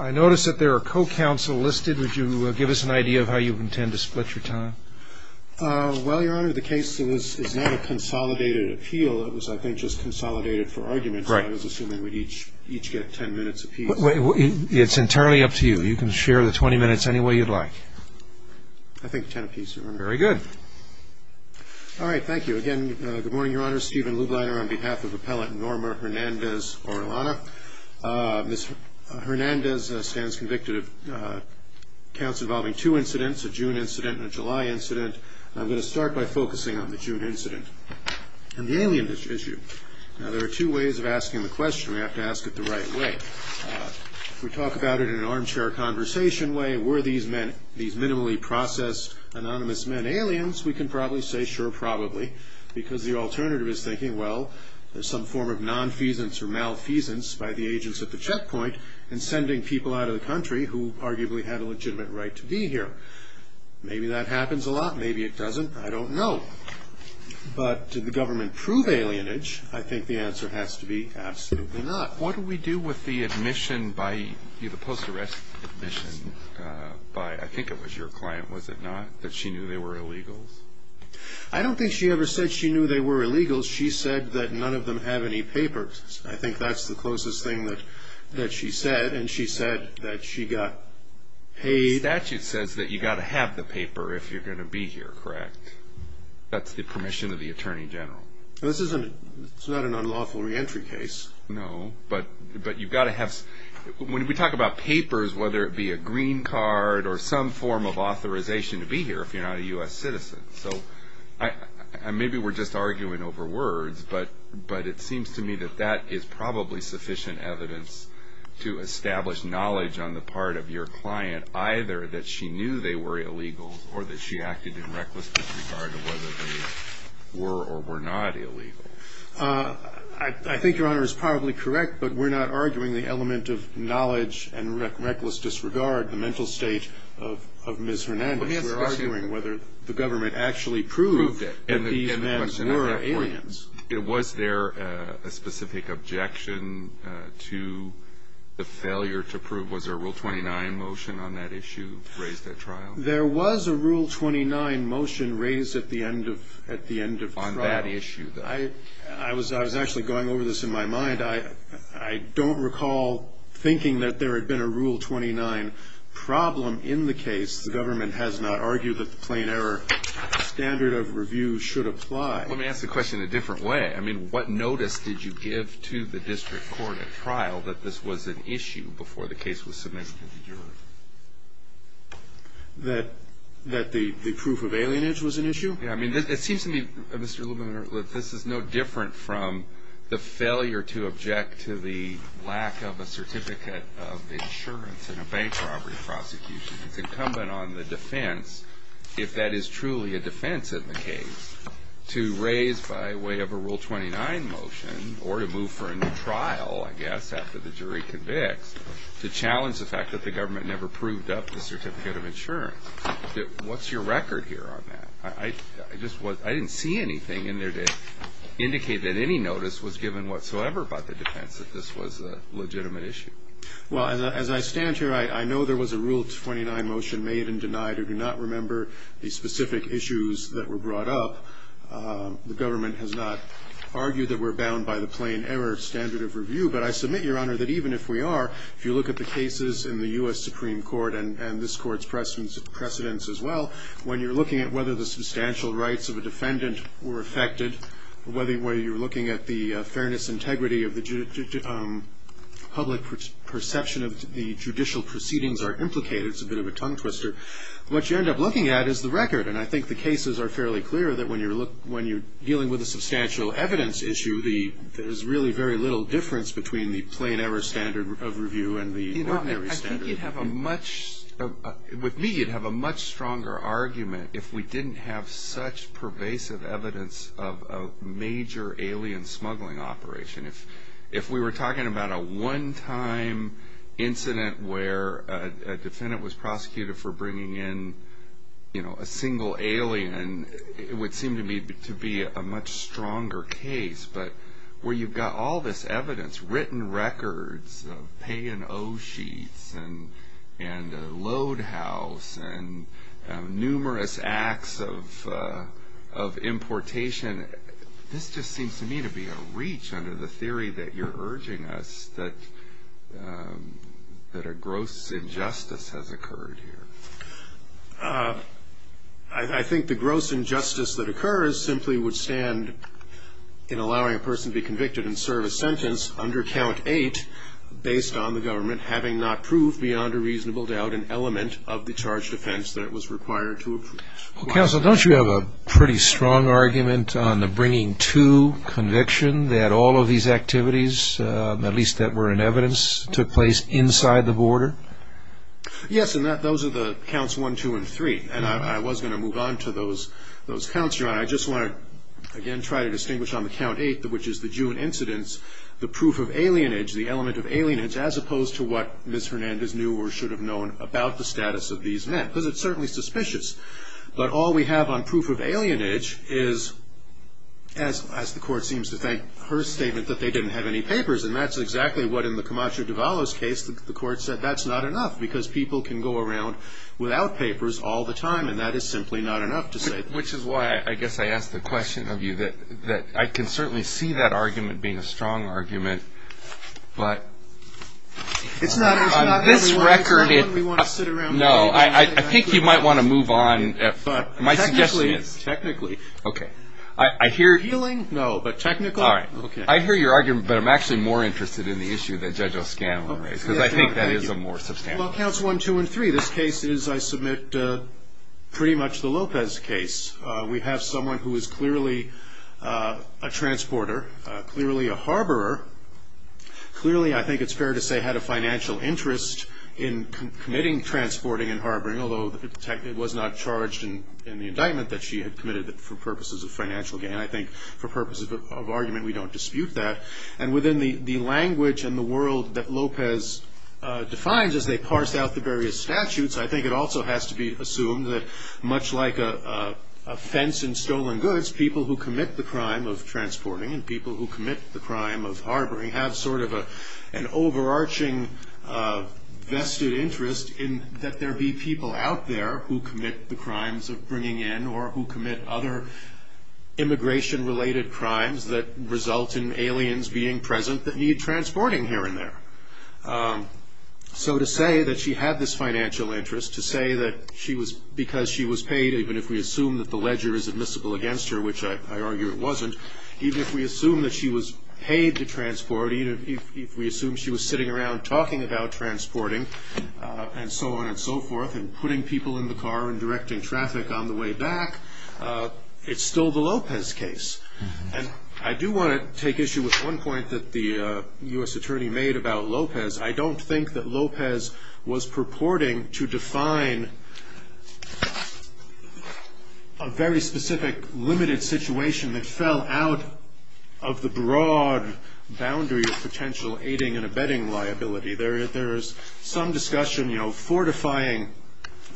I notice that there are co-counsel listed would you give us an idea of how you intend to split your time? Well your honor the case is not a consolidated appeal it was I think just consolidated for arguments. Right. I was assuming we'd each each get ten minutes a piece. It's entirely up to you you can share the 20 minutes any way you'd like. I think ten a piece your honor. Very good. All right thank you again good morning your honor Stephen Lubliner on behalf of appellant Norma Hernandez-Orellana. Ms. Hernandez stands convicted of counts involving two incidents a June incident and a July incident. I'm going to start by focusing on the June incident and the alien issue. Now there are two ways of asking the question we have to ask it the right way. We talk about it in an armchair conversation way were these men these minimally processed anonymous men aliens we can probably say sure probably because the alternative is thinking well there's some form of non-feasance or malfeasance by the agents at the checkpoint and sending people out of the country who arguably had a legitimate right to be here. Maybe that happens a lot maybe it doesn't I don't know. But did the government prove alienage? I think the answer has to be absolutely not. What do we do with the admission by you the post arrest admission by I think it was your client was it not that she knew they were illegals? I don't think she ever said she knew they were illegals she said that none of them have any papers. I think that's the closest thing that that she said and she said that she got paid. The statute says that you got to have the paper if you're gonna be here correct? That's the permission of the Attorney General. This isn't it's not an unlawful reentry case. No but but you've got to have when we talk about papers whether it be a green card or some form of authorization to be here if you're not a US citizen. So I maybe we're just arguing over words but but it seems to me that that is probably sufficient evidence to establish knowledge on the part of your client either that she knew they were illegals or that she acted in reckless disregard of whether they were or were not illegal. I think your honor is probably correct but we're not arguing the element of knowledge and we're not arguing whether the government actually proved that these men were aliens. Was there a specific objection to the failure to prove was there a rule 29 motion on that issue raised at trial? There was a rule 29 motion raised at the end of at the end of trial. On that issue. I was I was actually going over this in my mind I I don't recall thinking that there had been a rule 29 problem in the case. The government has not argued that the plain error standard of review should apply. Let me ask the question in a different way. I mean what notice did you give to the district court at trial that this was an issue before the case was submitted to the jury? That that the the proof of alienage was an issue? Yeah I mean it seems to me Mr. Lieberman that this is no different from the failure to object to the lack of a certificate of insurance in a bank robbery prosecution. It's incumbent on the defense if that is truly a defense in the case to raise by way of a rule 29 motion or to move for a new trial I guess after the jury convicts to challenge the fact that the government never proved up the certificate of insurance. What's your record here on that? I just was I didn't see anything in there to indicate that any notice was given whatsoever about the defense that this was a legitimate issue. Well as I stand here I know there was a rule 29 motion made and denied. I do not remember the specific issues that were brought up. The government has not argued that we're bound by the plain error standard of review. But I submit your honor that even if we are, if you look at the cases in the US Supreme Court and this court's precedents as well, when you're looking at whether the substantial rights of a defendant were affected, whether you're looking at the fairness integrity of the public perception of the judicial proceedings are implicated, it's a bit of a tongue twister, what you end up looking at is the record. And I think the cases are fairly clear that when you're dealing with a substantial evidence issue there's really very little difference between the plain error standard of review and the ordinary standard. I think you'd have a much, with me you'd have a much stronger argument if we didn't have such pervasive evidence of a major alien smuggling operation. If we were talking about a one time incident where a defendant was prosecuted for bringing in a single alien, it would seem to me to be a much stronger case. But where you've got all this evidence, written records of pay and owe sheets and load house and numerous acts of importation, this just seems to me to be a reach under the theory that you're urging us that a gross injustice has occurred here. I think the gross injustice that occurs simply would stand in allowing a person to be convicted and serve a sentence under count eight based on the government having not proved beyond a reasonable doubt an element of the charge defense that was required to approve. Counsel, don't you have a pretty strong argument on the bringing to conviction that all of these activities, at least that were in evidence, took place inside the border? Yes, and those are the counts one, two, and three. And I was going to move on to those counts, Your Honor. I just want to, again, try to distinguish on the count eight, which is the June incidents, the proof of alienage, the element of alienage, as opposed to what Ms. Hernandez knew or should have known about the status of these men. Because it's certainly suspicious. But all we have on proof of alienage is, as the Court seems to think, her statement that they didn't have any papers. And that's exactly what, in the Camacho-Duvalo's case, the Court said that's not enough, because people can go around without papers all the time, and that is simply not enough to say that. Which is why I guess I asked the question of you, that I can certainly see that argument being a strong argument. But on this record, no, I think you might want to move on. Technically, technically. Okay. I hear you. Healing, no, but technical, okay. I hear your argument, but I'm actually more interested in the issue that Judge O'Scanlan raised, because I think that is a more substantial one. Well, Counts 1, 2, and 3, this case is, I submit, pretty much the Lopez case. We have someone who is clearly a transporter, clearly a harborer, clearly, I think it's fair to say, had a financial interest in committing transporting and harboring, although it was not charged in the indictment that she had committed it for purposes of financial gain. I think for purposes of argument, we don't dispute that. And within the language and the world that Lopez defines as they parse out the various statutes, I think it also has to be assumed that much like a fence in stolen goods, people who commit the crime of transporting and people who commit the crime of harboring have sort of an overarching vested interest in that there be people out there who commit the crimes of bringing in or who commit other immigration-related crimes that result in aliens being present that need transporting here and there. So to say that she had this financial interest, to say that she was, because she was paid, even if we assume that the ledger is admissible against her, which I argue it wasn't, even if we assume that she was paid to transport, even if we assume she was sitting around talking about transporting and so on and so forth and putting people in the car and directing traffic on the way back, it's still the Lopez case. And I do want to take issue with one point that the U.S. attorney made about Lopez. I don't think that Lopez was purporting to define a very specific limited situation that fell out of the broad boundary of potential aiding and abetting liability. There is some discussion fortifying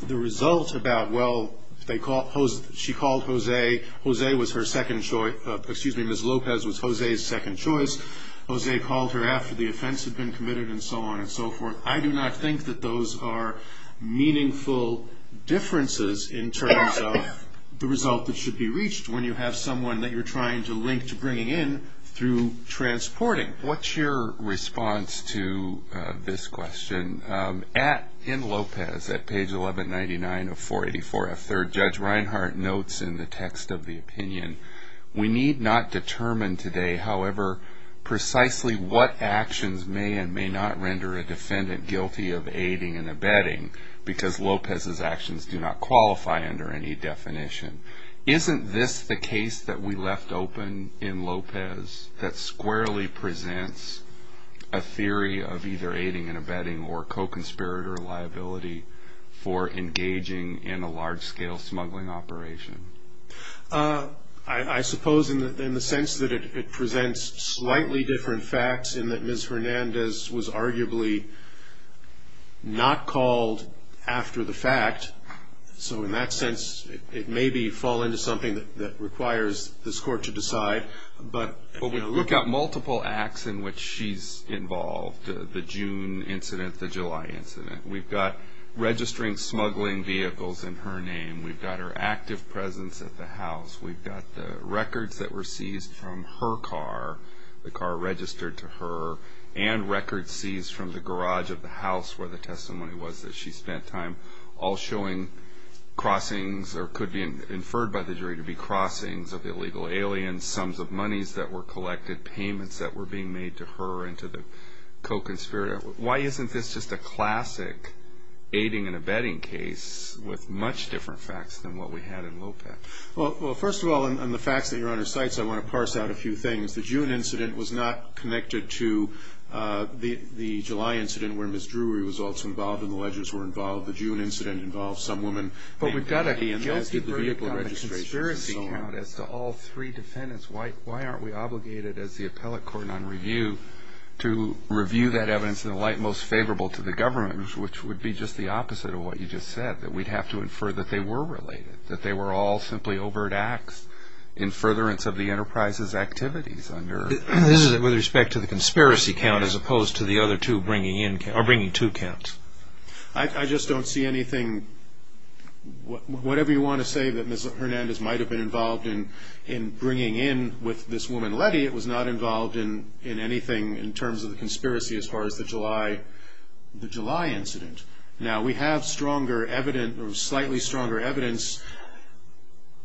the result about, well, she called Jose. Jose was her second choice. Excuse me, Ms. Lopez was Jose's second choice. Jose called her after the offense had been committed and so on and so forth. I do not think that those are meaningful differences in terms of the result that should be reached when you have someone that you're trying to link to bringing in through transporting. What's your response to this question? In Lopez, at page 1199 of 484F3rd, Judge Reinhart notes in the text of the opinion, we need not determine today, however, precisely what actions may and may not render a defendant guilty of aiding and abetting because Lopez's actions do not qualify under any definition. Isn't this the case that we left open in Lopez that squarely presents a theory of either aiding and abetting or co-conspirator liability for engaging in a large-scale smuggling operation? I suppose in the sense that it presents slightly different facts in that Ms. Hernandez was arguably not called after the fact. So in that sense, it may fall into something that requires this court to decide. We've got multiple acts in which she's involved. The June incident, the July incident. We've got registering smuggling vehicles in her name. We've got her active presence at the house. We've got the records that were seized from her car, the car registered to her, and records seized from the garage of the house where the testimony was that she spent time, all showing crossings or could be inferred by the jury to be crossings of illegal aliens. And sums of monies that were collected, payments that were being made to her and to the co-conspirator. Why isn't this just a classic aiding and abetting case with much different facts than what we had in Lopez? Well, first of all, on the facts that Your Honor cites, I want to parse out a few things. The June incident was not connected to the July incident where Ms. Drury was also involved and the ledgers were involved. The June incident involved some woman. But we've got a guilty verdict on the conspiracy count as to all three defendants. Why aren't we obligated as the appellate court on review to review that evidence in a light most favorable to the government, which would be just the opposite of what you just said, that we'd have to infer that they were related, that they were all simply overt acts in furtherance of the enterprise's activities under... This is with respect to the conspiracy count as opposed to the other two bringing two counts. I just don't see anything... Whatever you want to say that Ms. Hernandez might have been involved in bringing in with this woman Letty, it was not involved in anything in terms of the conspiracy as far as the July incident. Now, we have slightly stronger evidence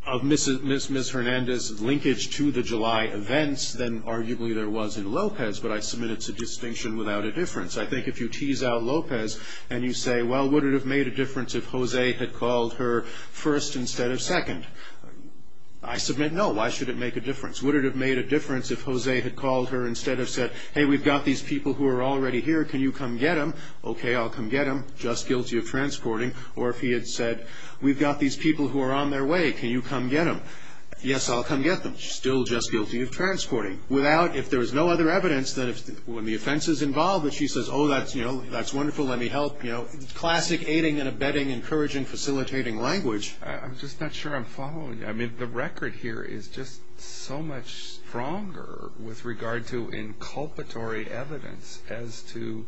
of Ms. Hernandez' linkage to the July events than arguably there was in Lopez, but I submit it's a distinction without a difference. I think if you tease out Lopez and you say, well, would it have made a difference if Jose had called her first instead of second? I submit, no. Why should it make a difference? Would it have made a difference if Jose had called her instead of said, hey, we've got these people who are already here. Can you come get them? Okay, I'll come get them. Just guilty of transporting. Or if he had said, we've got these people who are on their way. Can you come get them? Yes, I'll come get them. She's still just guilty of transporting. Without, if there was no other evidence, then when the offense is involved and she says, oh, that's wonderful. Let me help. Classic aiding and abetting, encouraging, facilitating language. I'm just not sure I'm following you. I mean, the record here is just so much stronger with regard to inculpatory evidence as to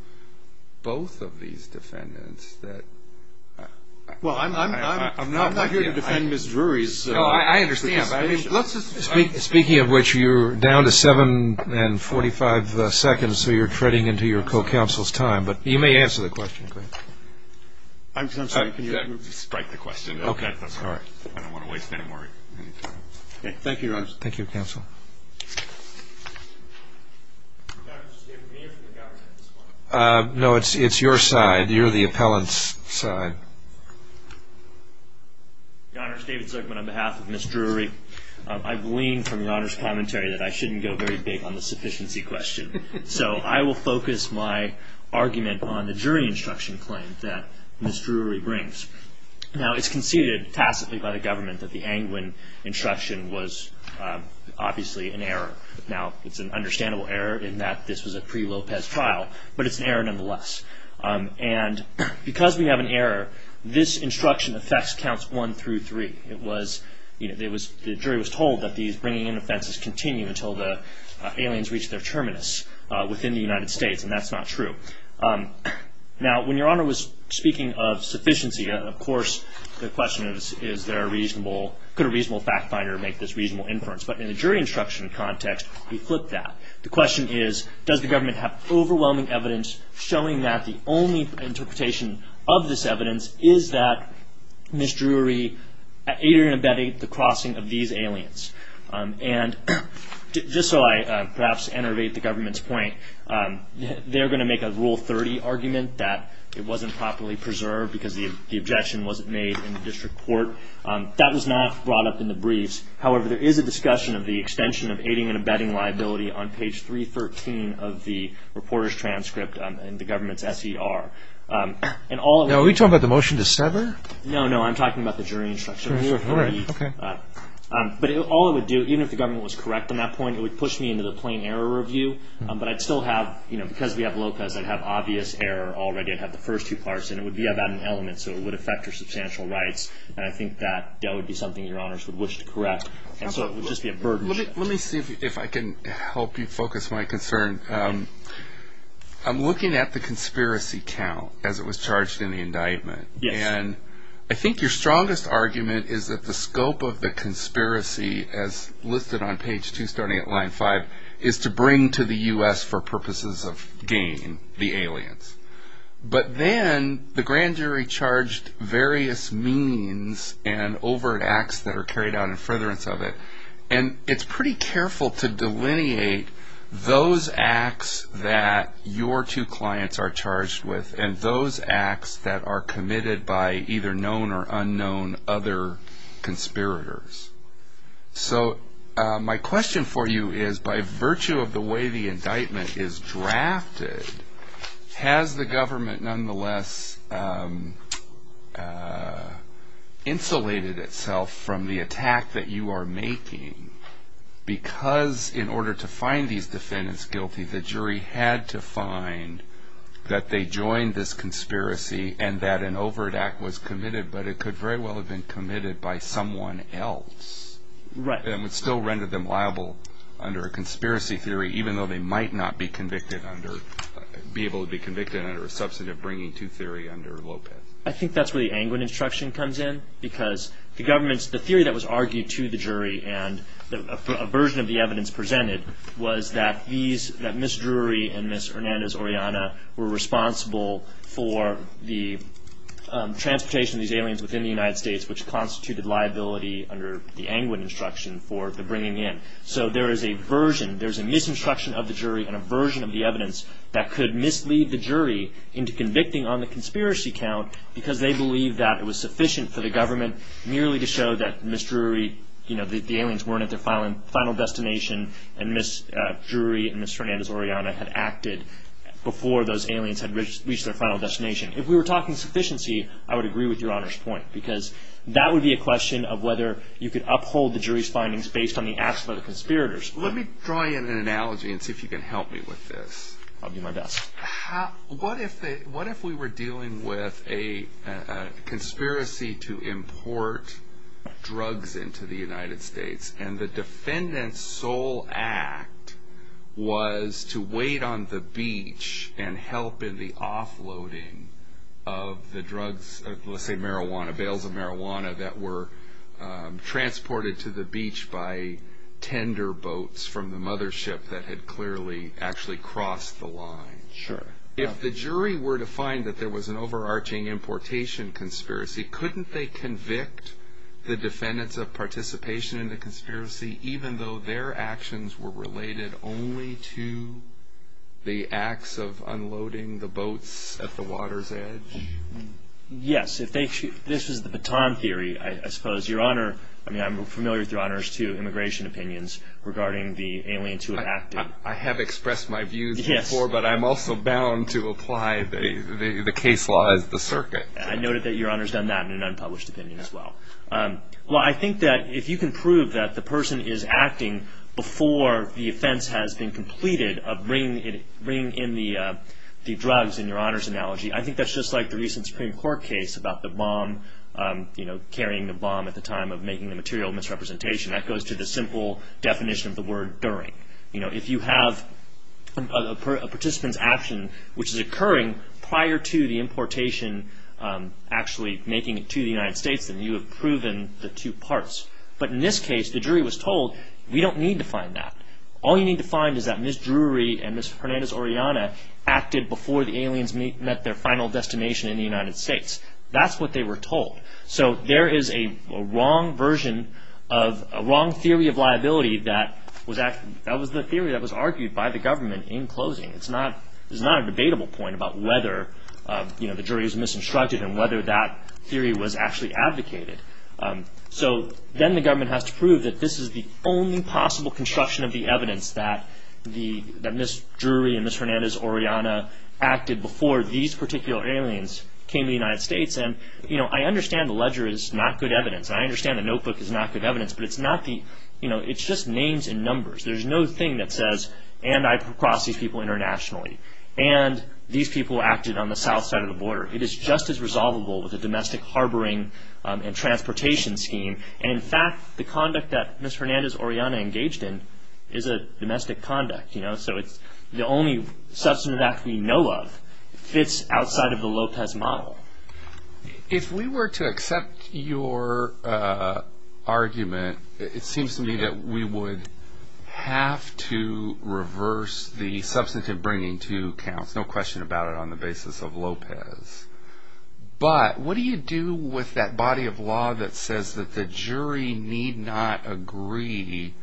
both of these defendants that. Well, I'm not here to defend Ms. Drury's. I understand. Speaking of which, you're down to seven and 45 seconds, so you're treading into your co-counsel's time, but you may answer the question. I'm sorry, can you strike the question? Okay. I don't want to waste any more time. Thank you, Your Honors. Thank you, Counsel. No, it's your side. You're the appellant's side. Your Honors, David Zuckman, on behalf of Ms. Drury, I've leaned from Your Honors' commentary that I shouldn't go very big on the sufficiency question. So I will focus my argument on the jury instruction claim that Ms. Drury brings. Now, it's conceded tacitly by the government that the Angwin instruction was obviously an error. Now, it's an understandable error in that this was a pre-Lopez trial, but it's an error nonetheless. And because we have an error, this instruction affects counts one through three. The jury was told that these bringing in offenses continue until the aliens reach their terminus within the United States, and that's not true. Now, when Your Honor was speaking of sufficiency, of course, the question is, could a reasonable fact finder make this reasonable inference? But in a jury instruction context, we flip that. The question is, does the government have overwhelming evidence showing that the only interpretation of this evidence is that Ms. Drury aided and abetted the crossing of these aliens? And just so I perhaps enervate the government's point, they're going to make a Rule 30 argument that it wasn't properly preserved because the objection wasn't made in the district court. That was not brought up in the briefs. However, there is a discussion of the extension of aiding and abetting liability on page 313 of the reporter's transcript in the government's S.E.R. Are we talking about the motion to settle? No, no, I'm talking about the jury instruction. But all it would do, even if the government was correct on that point, it would push me into the plain error review. But I'd still have, you know, because we have Lopez, I'd have obvious error already. I'd have the first two parts, and it would be about an element, so it would affect her substantial rights. And I think that that would be something your honors would wish to correct. And so it would just be a burden. Let me see if I can help you focus my concern. I'm looking at the conspiracy count as it was charged in the indictment. Yes. And I think your strongest argument is that the scope of the conspiracy, as listed on page 2 starting at line 5, is to bring to the U.S. for purposes of gain the aliens. But then the grand jury charged various means and overt acts that are carried out in furtherance of it. And it's pretty careful to delineate those acts that your two clients are charged with and those acts that are committed by either known or unknown other conspirators. So my question for you is, by virtue of the way the indictment is drafted, has the government nonetheless insulated itself from the attack that you are making? Because in order to find these defendants guilty, the jury had to find that they joined this conspiracy and that an overt act was committed. But it could very well have been committed by someone else. Right. And it still rendered them liable under a conspiracy theory, even though they might not be convicted under – be able to be convicted under a substantive bringing to theory under Lopez. I think that's where the Angwin instruction comes in. Because the government's – the theory that was argued to the jury and a version of the evidence presented was that these – that Ms. Drury and Ms. Hernandez-Oreana were responsible for the transportation of these aliens within the United States, which constituted liability under the Angwin instruction for the bringing in. So there is a version – there's a misinstruction of the jury and a version of the evidence that could mislead the jury into convicting on the conspiracy count because they believe that it was sufficient for the government merely to show that Ms. Drury – you know, that the aliens weren't at their final destination, and Ms. Drury and Ms. Hernandez-Oreana had acted before those aliens had reached their final destination. If we were talking sufficiency, I would agree with Your Honor's point because that would be a question of whether you could uphold the jury's findings based on the acts of other conspirators. Let me draw you in an analogy and see if you can help me with this. I'll do my best. What if we were dealing with a conspiracy to import drugs into the United States, and the defendant's sole act was to wait on the beach and help in the offloading of the drugs – let's say marijuana, bales of marijuana that were transported to the beach by tender boats from the mothership that had clearly actually crossed the line? Sure. If the jury were to find that there was an overarching importation conspiracy, couldn't they convict the defendants of participation in the conspiracy, even though their actions were related only to the acts of unloading the boats at the water's edge? Yes, if they – this is the baton theory, I suppose. Your Honor – I mean, I'm familiar with Your Honor's, too, immigration opinions regarding the aliens who have acted. I have expressed my views before, but I'm also bound to apply the case law as the circuit. I noted that Your Honor's done that in an unpublished opinion as well. Well, I think that if you can prove that the person is acting before the offense has been completed of bringing in the drugs, in Your Honor's analogy, I think that's just like the recent Supreme Court case about the bomb, carrying the bomb at the time of making the material misrepresentation. That goes to the simple definition of the word during. If you have a participant's action which is occurring prior to the importation actually making it to the United States, then you have proven the two parts. But in this case, the jury was told, we don't need to find that. All you need to find is that Ms. Drury and Ms. Hernandez-Oriana acted before the aliens met their final destination in the United States. That's what they were told. So there is a wrong version of a wrong theory of liability. That was the theory that was argued by the government in closing. It's not a debatable point about whether the jury was misconstructed and whether that theory was actually advocated. So then the government has to prove that this is the only possible construction of the evidence that Ms. Drury and Ms. Hernandez-Oriana acted before these particular aliens came to the United States. I understand the ledger is not good evidence. I understand the notebook is not good evidence, but it's just names and numbers. There's no thing that says, and I crossed these people internationally, and these people acted on the south side of the border. It is just as resolvable with a domestic harboring and transportation scheme. In fact, the conduct that Ms. Hernandez-Oriana engaged in is a domestic conduct. The only substantive act we know of fits outside of the Lopez model. If we were to accept your argument, it seems to me that we would have to reverse the substantive bringing to accounts, no question about it, on the basis of Lopez. But what do you do with that body of law that says that the jury need not agree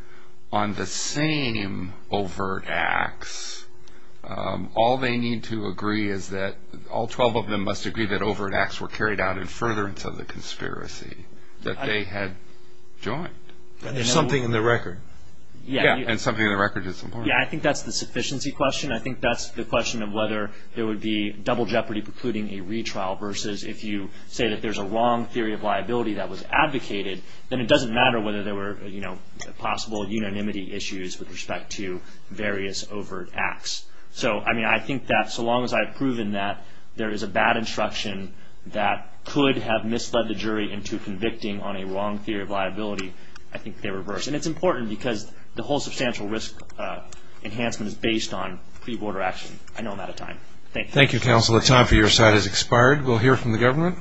on the same overt acts? All they need to agree is that all 12 of them must agree that overt acts were carried out in furtherance of the conspiracy, that they had joined. There's something in the record. Yeah, and something in the record is important. Yeah, I think that's the sufficiency question. I think that's the question of whether there would be double jeopardy precluding a retrial versus if you say that there's a wrong theory of liability that was advocated, then it doesn't matter whether there were possible unanimity issues with respect to various overt acts. So, I mean, I think that so long as I've proven that there is a bad instruction that could have misled the jury into convicting on a wrong theory of liability, I think they reverse. And it's important because the whole substantial risk enhancement is based on pre-order action. I know I'm out of time. Thank you. Thank you, counsel. The time for your side has expired. We'll hear from the government.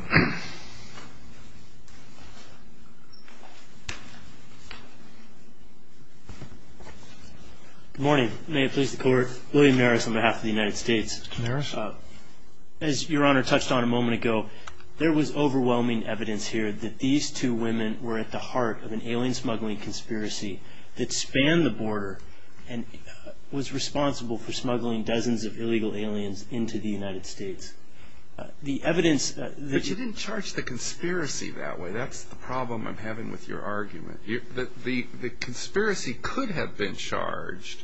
Good morning. May it please the Court. William Maris on behalf of the United States. Mr. Maris. As Your Honor touched on a moment ago, there was overwhelming evidence here that these two women were at the heart of an alien smuggling conspiracy that spanned the border and was responsible for smuggling dozens of illegal aliens into the United States. The evidence that you... But you didn't charge the conspiracy that way. That's the problem I'm having with your argument. The conspiracy could have been charged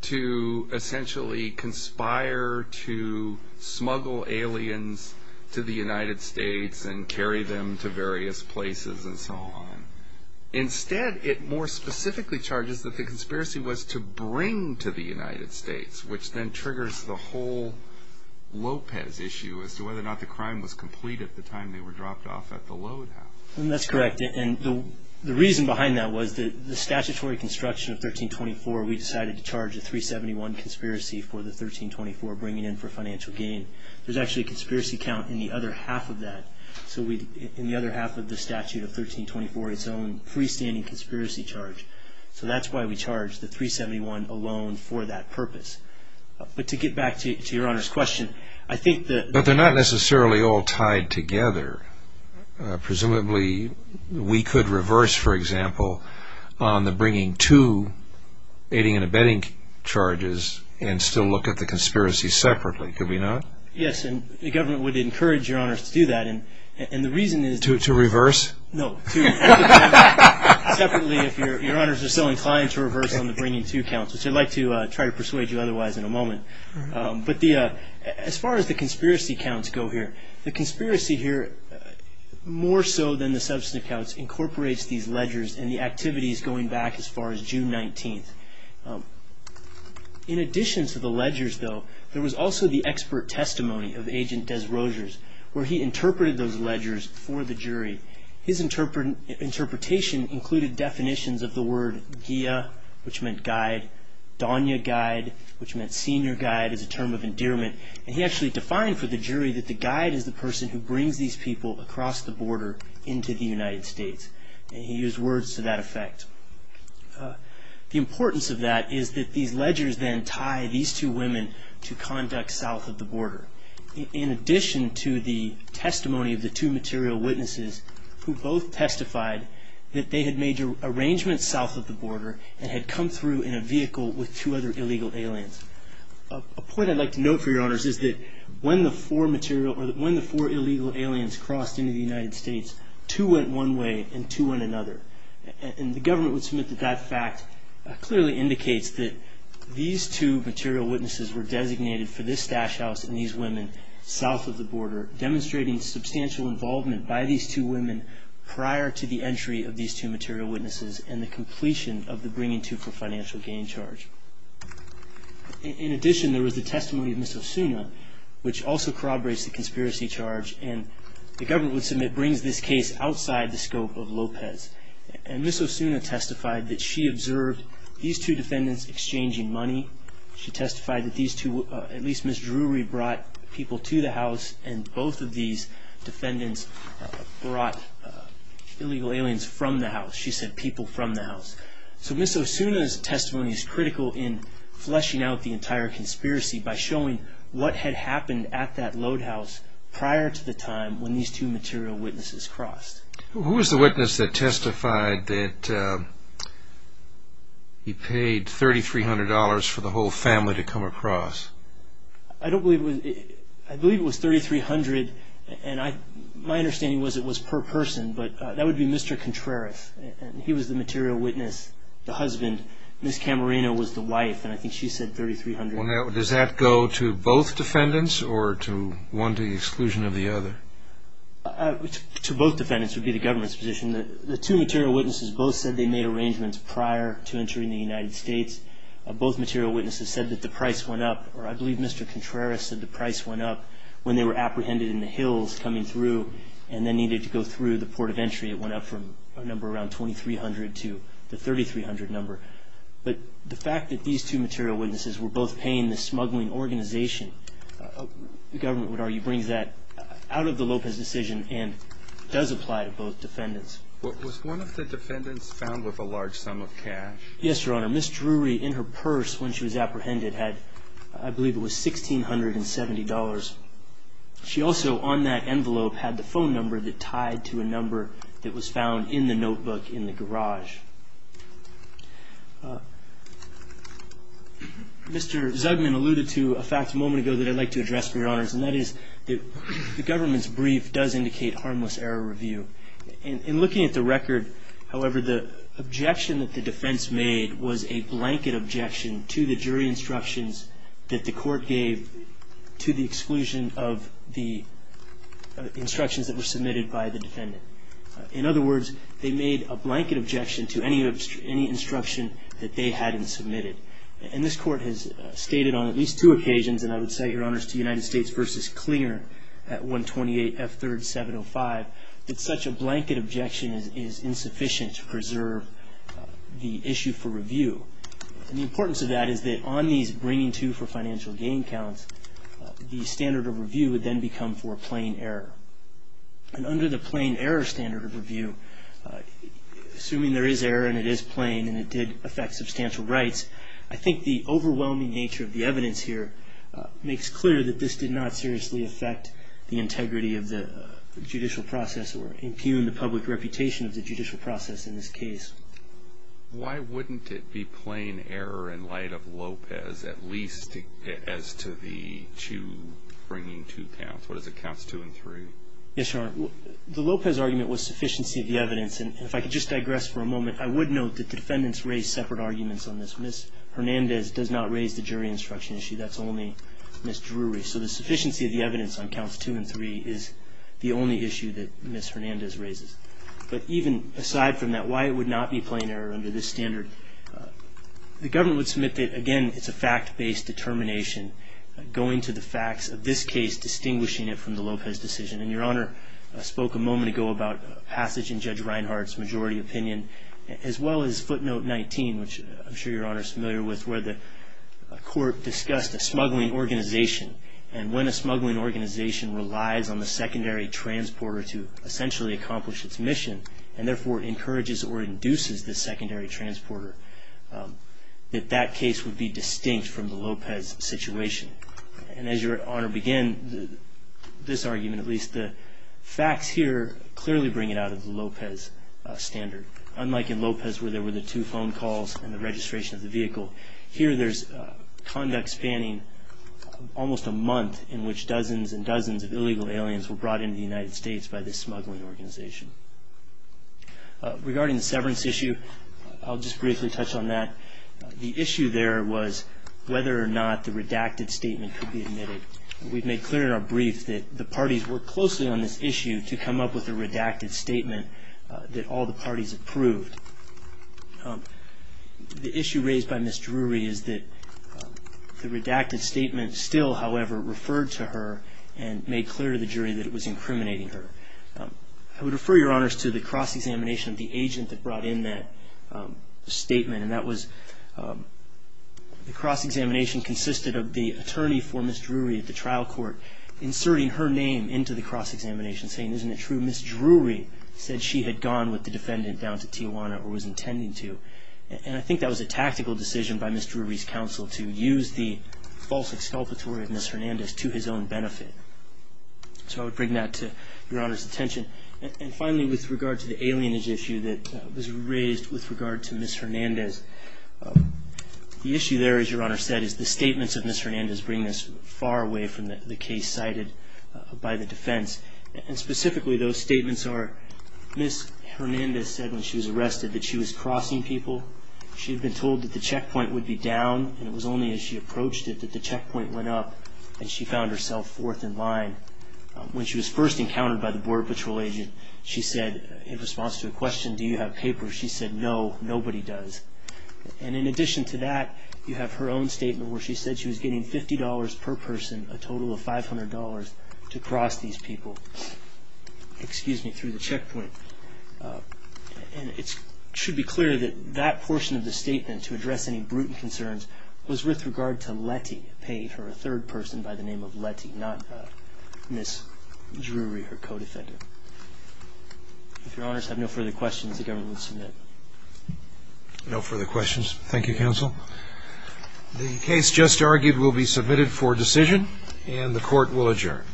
to essentially conspire to smuggle aliens to the United States and carry them to various places and so on. Instead, it more specifically charges that the conspiracy was to bring to the United States, which then triggers the whole Lopez issue as to whether or not the crime was complete at the time they were dropped off at the load house. That's correct. And the reason behind that was that the statutory construction of 1324, we decided to charge a 371 conspiracy for the 1324 bringing in for financial gain. There's actually a conspiracy count in the other half of that, in the other half of the statute of 1324, its own freestanding conspiracy charge. So that's why we charged the 371 alone for that purpose. But to get back to Your Honor's question, I think that... they're not necessarily all tied together. Presumably, we could reverse, for example, on the bringing to, aiding and abetting charges and still look at the conspiracy separately. Could we not? Yes, and the government would encourage Your Honors to do that. And the reason is... To reverse? No. Separately, if Your Honors are still inclined to reverse on the bringing to counts, which I'd like to try to persuade you otherwise in a moment. But as far as the conspiracy counts go here, the conspiracy here, more so than the substance counts, incorporates these ledgers and the activities going back as far as June 19th. In addition to the ledgers, though, there was also the expert testimony of Agent Desrosiers, where he interpreted those ledgers for the jury. His interpretation included definitions of the word, which meant guide, which meant senior guide as a term of endearment. And he actually defined for the jury that the guide is the person who brings these people across the border into the United States. And he used words to that effect. The importance of that is that these ledgers then tie these two women to conduct south of the border. In addition to the testimony of the two material witnesses, who both testified that they had made arrangements south of the border and had come through in a vehicle with two other illegal aliens. A point I'd like to note for Your Honors is that when the four material, or when the four illegal aliens crossed into the United States, two went one way and two went another. And the government would submit that that fact clearly indicates that these two material witnesses were designated for this stash house and these women south of the border, demonstrating substantial involvement by these two women prior to the entry of these two material witnesses and the completion of the bringing to for financial gain charge. In addition, there was the testimony of Ms. Osuna, which also corroborates the conspiracy charge. And the government would submit brings this case outside the scope of Lopez. And Ms. Osuna testified that she observed these two defendants exchanging money. She testified that these two, at least Ms. Drury, brought people to the house and both of these defendants brought illegal aliens from the house. She said people from the house. So Ms. Osuna's testimony is critical in fleshing out the entire conspiracy by showing what had happened at that load house prior to the time when these two material witnesses crossed. Who was the witness that testified that he paid $3,300 for the whole family to come across? I believe it was $3,300, and my understanding was it was per person, but that would be Mr. Contreras. He was the material witness, the husband. Ms. Camarena was the wife, and I think she said $3,300. Does that go to both defendants or to one to the exclusion of the other? To both defendants would be the government's position. The two material witnesses both said they made arrangements prior to entering the United States. Both material witnesses said that the price went up, or I believe Mr. Contreras said the price went up, when they were apprehended in the hills coming through and then needed to go through the port of entry. It went up from a number around $2,300 to the $3,300 number. But the fact that these two material witnesses were both paying this smuggling organization, the government would argue, brings that out of the Lopez decision and does apply to both defendants. Was one of the defendants found with a large sum of cash? Yes, Your Honor. Ms. Drury, in her purse when she was apprehended, had I believe it was $1,670. She also on that envelope had the phone number that tied to a number that was found in the notebook in the garage. Mr. Zugman alluded to a fact a moment ago that I'd like to address, Your Honors, and that is the government's brief does indicate harmless error review. In looking at the record, however, the objection that the defense made was a blanket objection to the jury instructions that the court gave to the exclusion of the instructions that were submitted by the defendant. In other words, they made a blanket objection to any instruction that they hadn't submitted. And this court has stated on at least two occasions, and I would say, Your Honors, to United States v. Clinger at 128F3705, that such a blanket objection is insufficient to preserve the issue for review. And the importance of that is that on these bringing to for financial gain counts, the standard of review would then become for plain error. And under the plain error standard of review, assuming there is error and it is plain and it did affect substantial rights, I think the overwhelming nature of the evidence here makes clear that this did not seriously affect the integrity of the judicial process or impugn the public reputation of the judicial process in this case. Why wouldn't it be plain error in light of Lopez at least as to the two bringing to counts? What is it, counts two and three? Yes, Your Honor. The Lopez argument was sufficiency of the evidence. And if I could just digress for a moment, I would note that the defendants raised separate arguments on this. Ms. Hernandez does not raise the jury instruction issue. That's only Ms. Drury. So the sufficiency of the evidence on counts two and three is the only issue that Ms. Hernandez raises. But even aside from that, why it would not be plain error under this standard, the government would submit that, again, it's a fact-based determination, going to the facts of this case, distinguishing it from the Lopez decision. And Your Honor spoke a moment ago about passage in Judge Reinhart's majority opinion, as well as footnote 19, which I'm sure Your Honor is familiar with, where the court discussed a smuggling organization. And when a smuggling organization relies on the secondary transporter to essentially accomplish its mission, and therefore encourages or induces the secondary transporter, that that case would be distinct from the Lopez situation. And as Your Honor began this argument at least, the facts here clearly bring it out of the Lopez standard. Unlike in Lopez where there were the two phone calls and the registration of the vehicle, here there's conduct spanning almost a month in which dozens and dozens of illegal aliens were brought into the United States by this smuggling organization. Regarding the severance issue, I'll just briefly touch on that. The issue there was whether or not the redacted statement could be admitted. We've made clear in our brief that the parties worked closely on this issue to come up with a redacted statement that all the parties approved. The issue raised by Ms. Drury is that the redacted statement still, however, referred to her and made clear to the jury that it was incriminating her. I would refer Your Honors to the cross-examination of the agent that brought in that statement, and that was the cross-examination consisted of the attorney for Ms. Drury at the trial court inserting her name into the cross-examination saying, isn't it true, Ms. Drury said she had gone with the defendant down to Tijuana or was intending to. I think that was a tactical decision by Ms. Drury's counsel to use the false exculpatory of Ms. Hernandez to his own benefit. I would bring that to Your Honor's attention. Finally, with regard to the alienage issue that was raised with regard to Ms. Hernandez, the issue there, as Your Honor said, is the statements of Ms. Hernandez bringing us far away from the case cited by the defense. Specifically, those statements are Ms. Hernandez said when she was arrested that she was crossing people. She had been told that the checkpoint would be down, and it was only as she approached it that the checkpoint went up and she found herself fourth in line. When she was first encountered by the Border Patrol agent, she said in response to a question, do you have papers, she said, no, nobody does. In addition to that, you have her own statement where she said she was getting $50 per person, a total of $500 to cross these people through the checkpoint. It should be clear that that portion of the statement to address any brutal concerns was with regard to Letty, paid for a third person by the name of Letty, not Ms. Drury, her co-defendant. If Your Honors have no further questions, the government will submit. No further questions. Thank you, counsel. The case just argued will be submitted for decision, and the court will adjourn.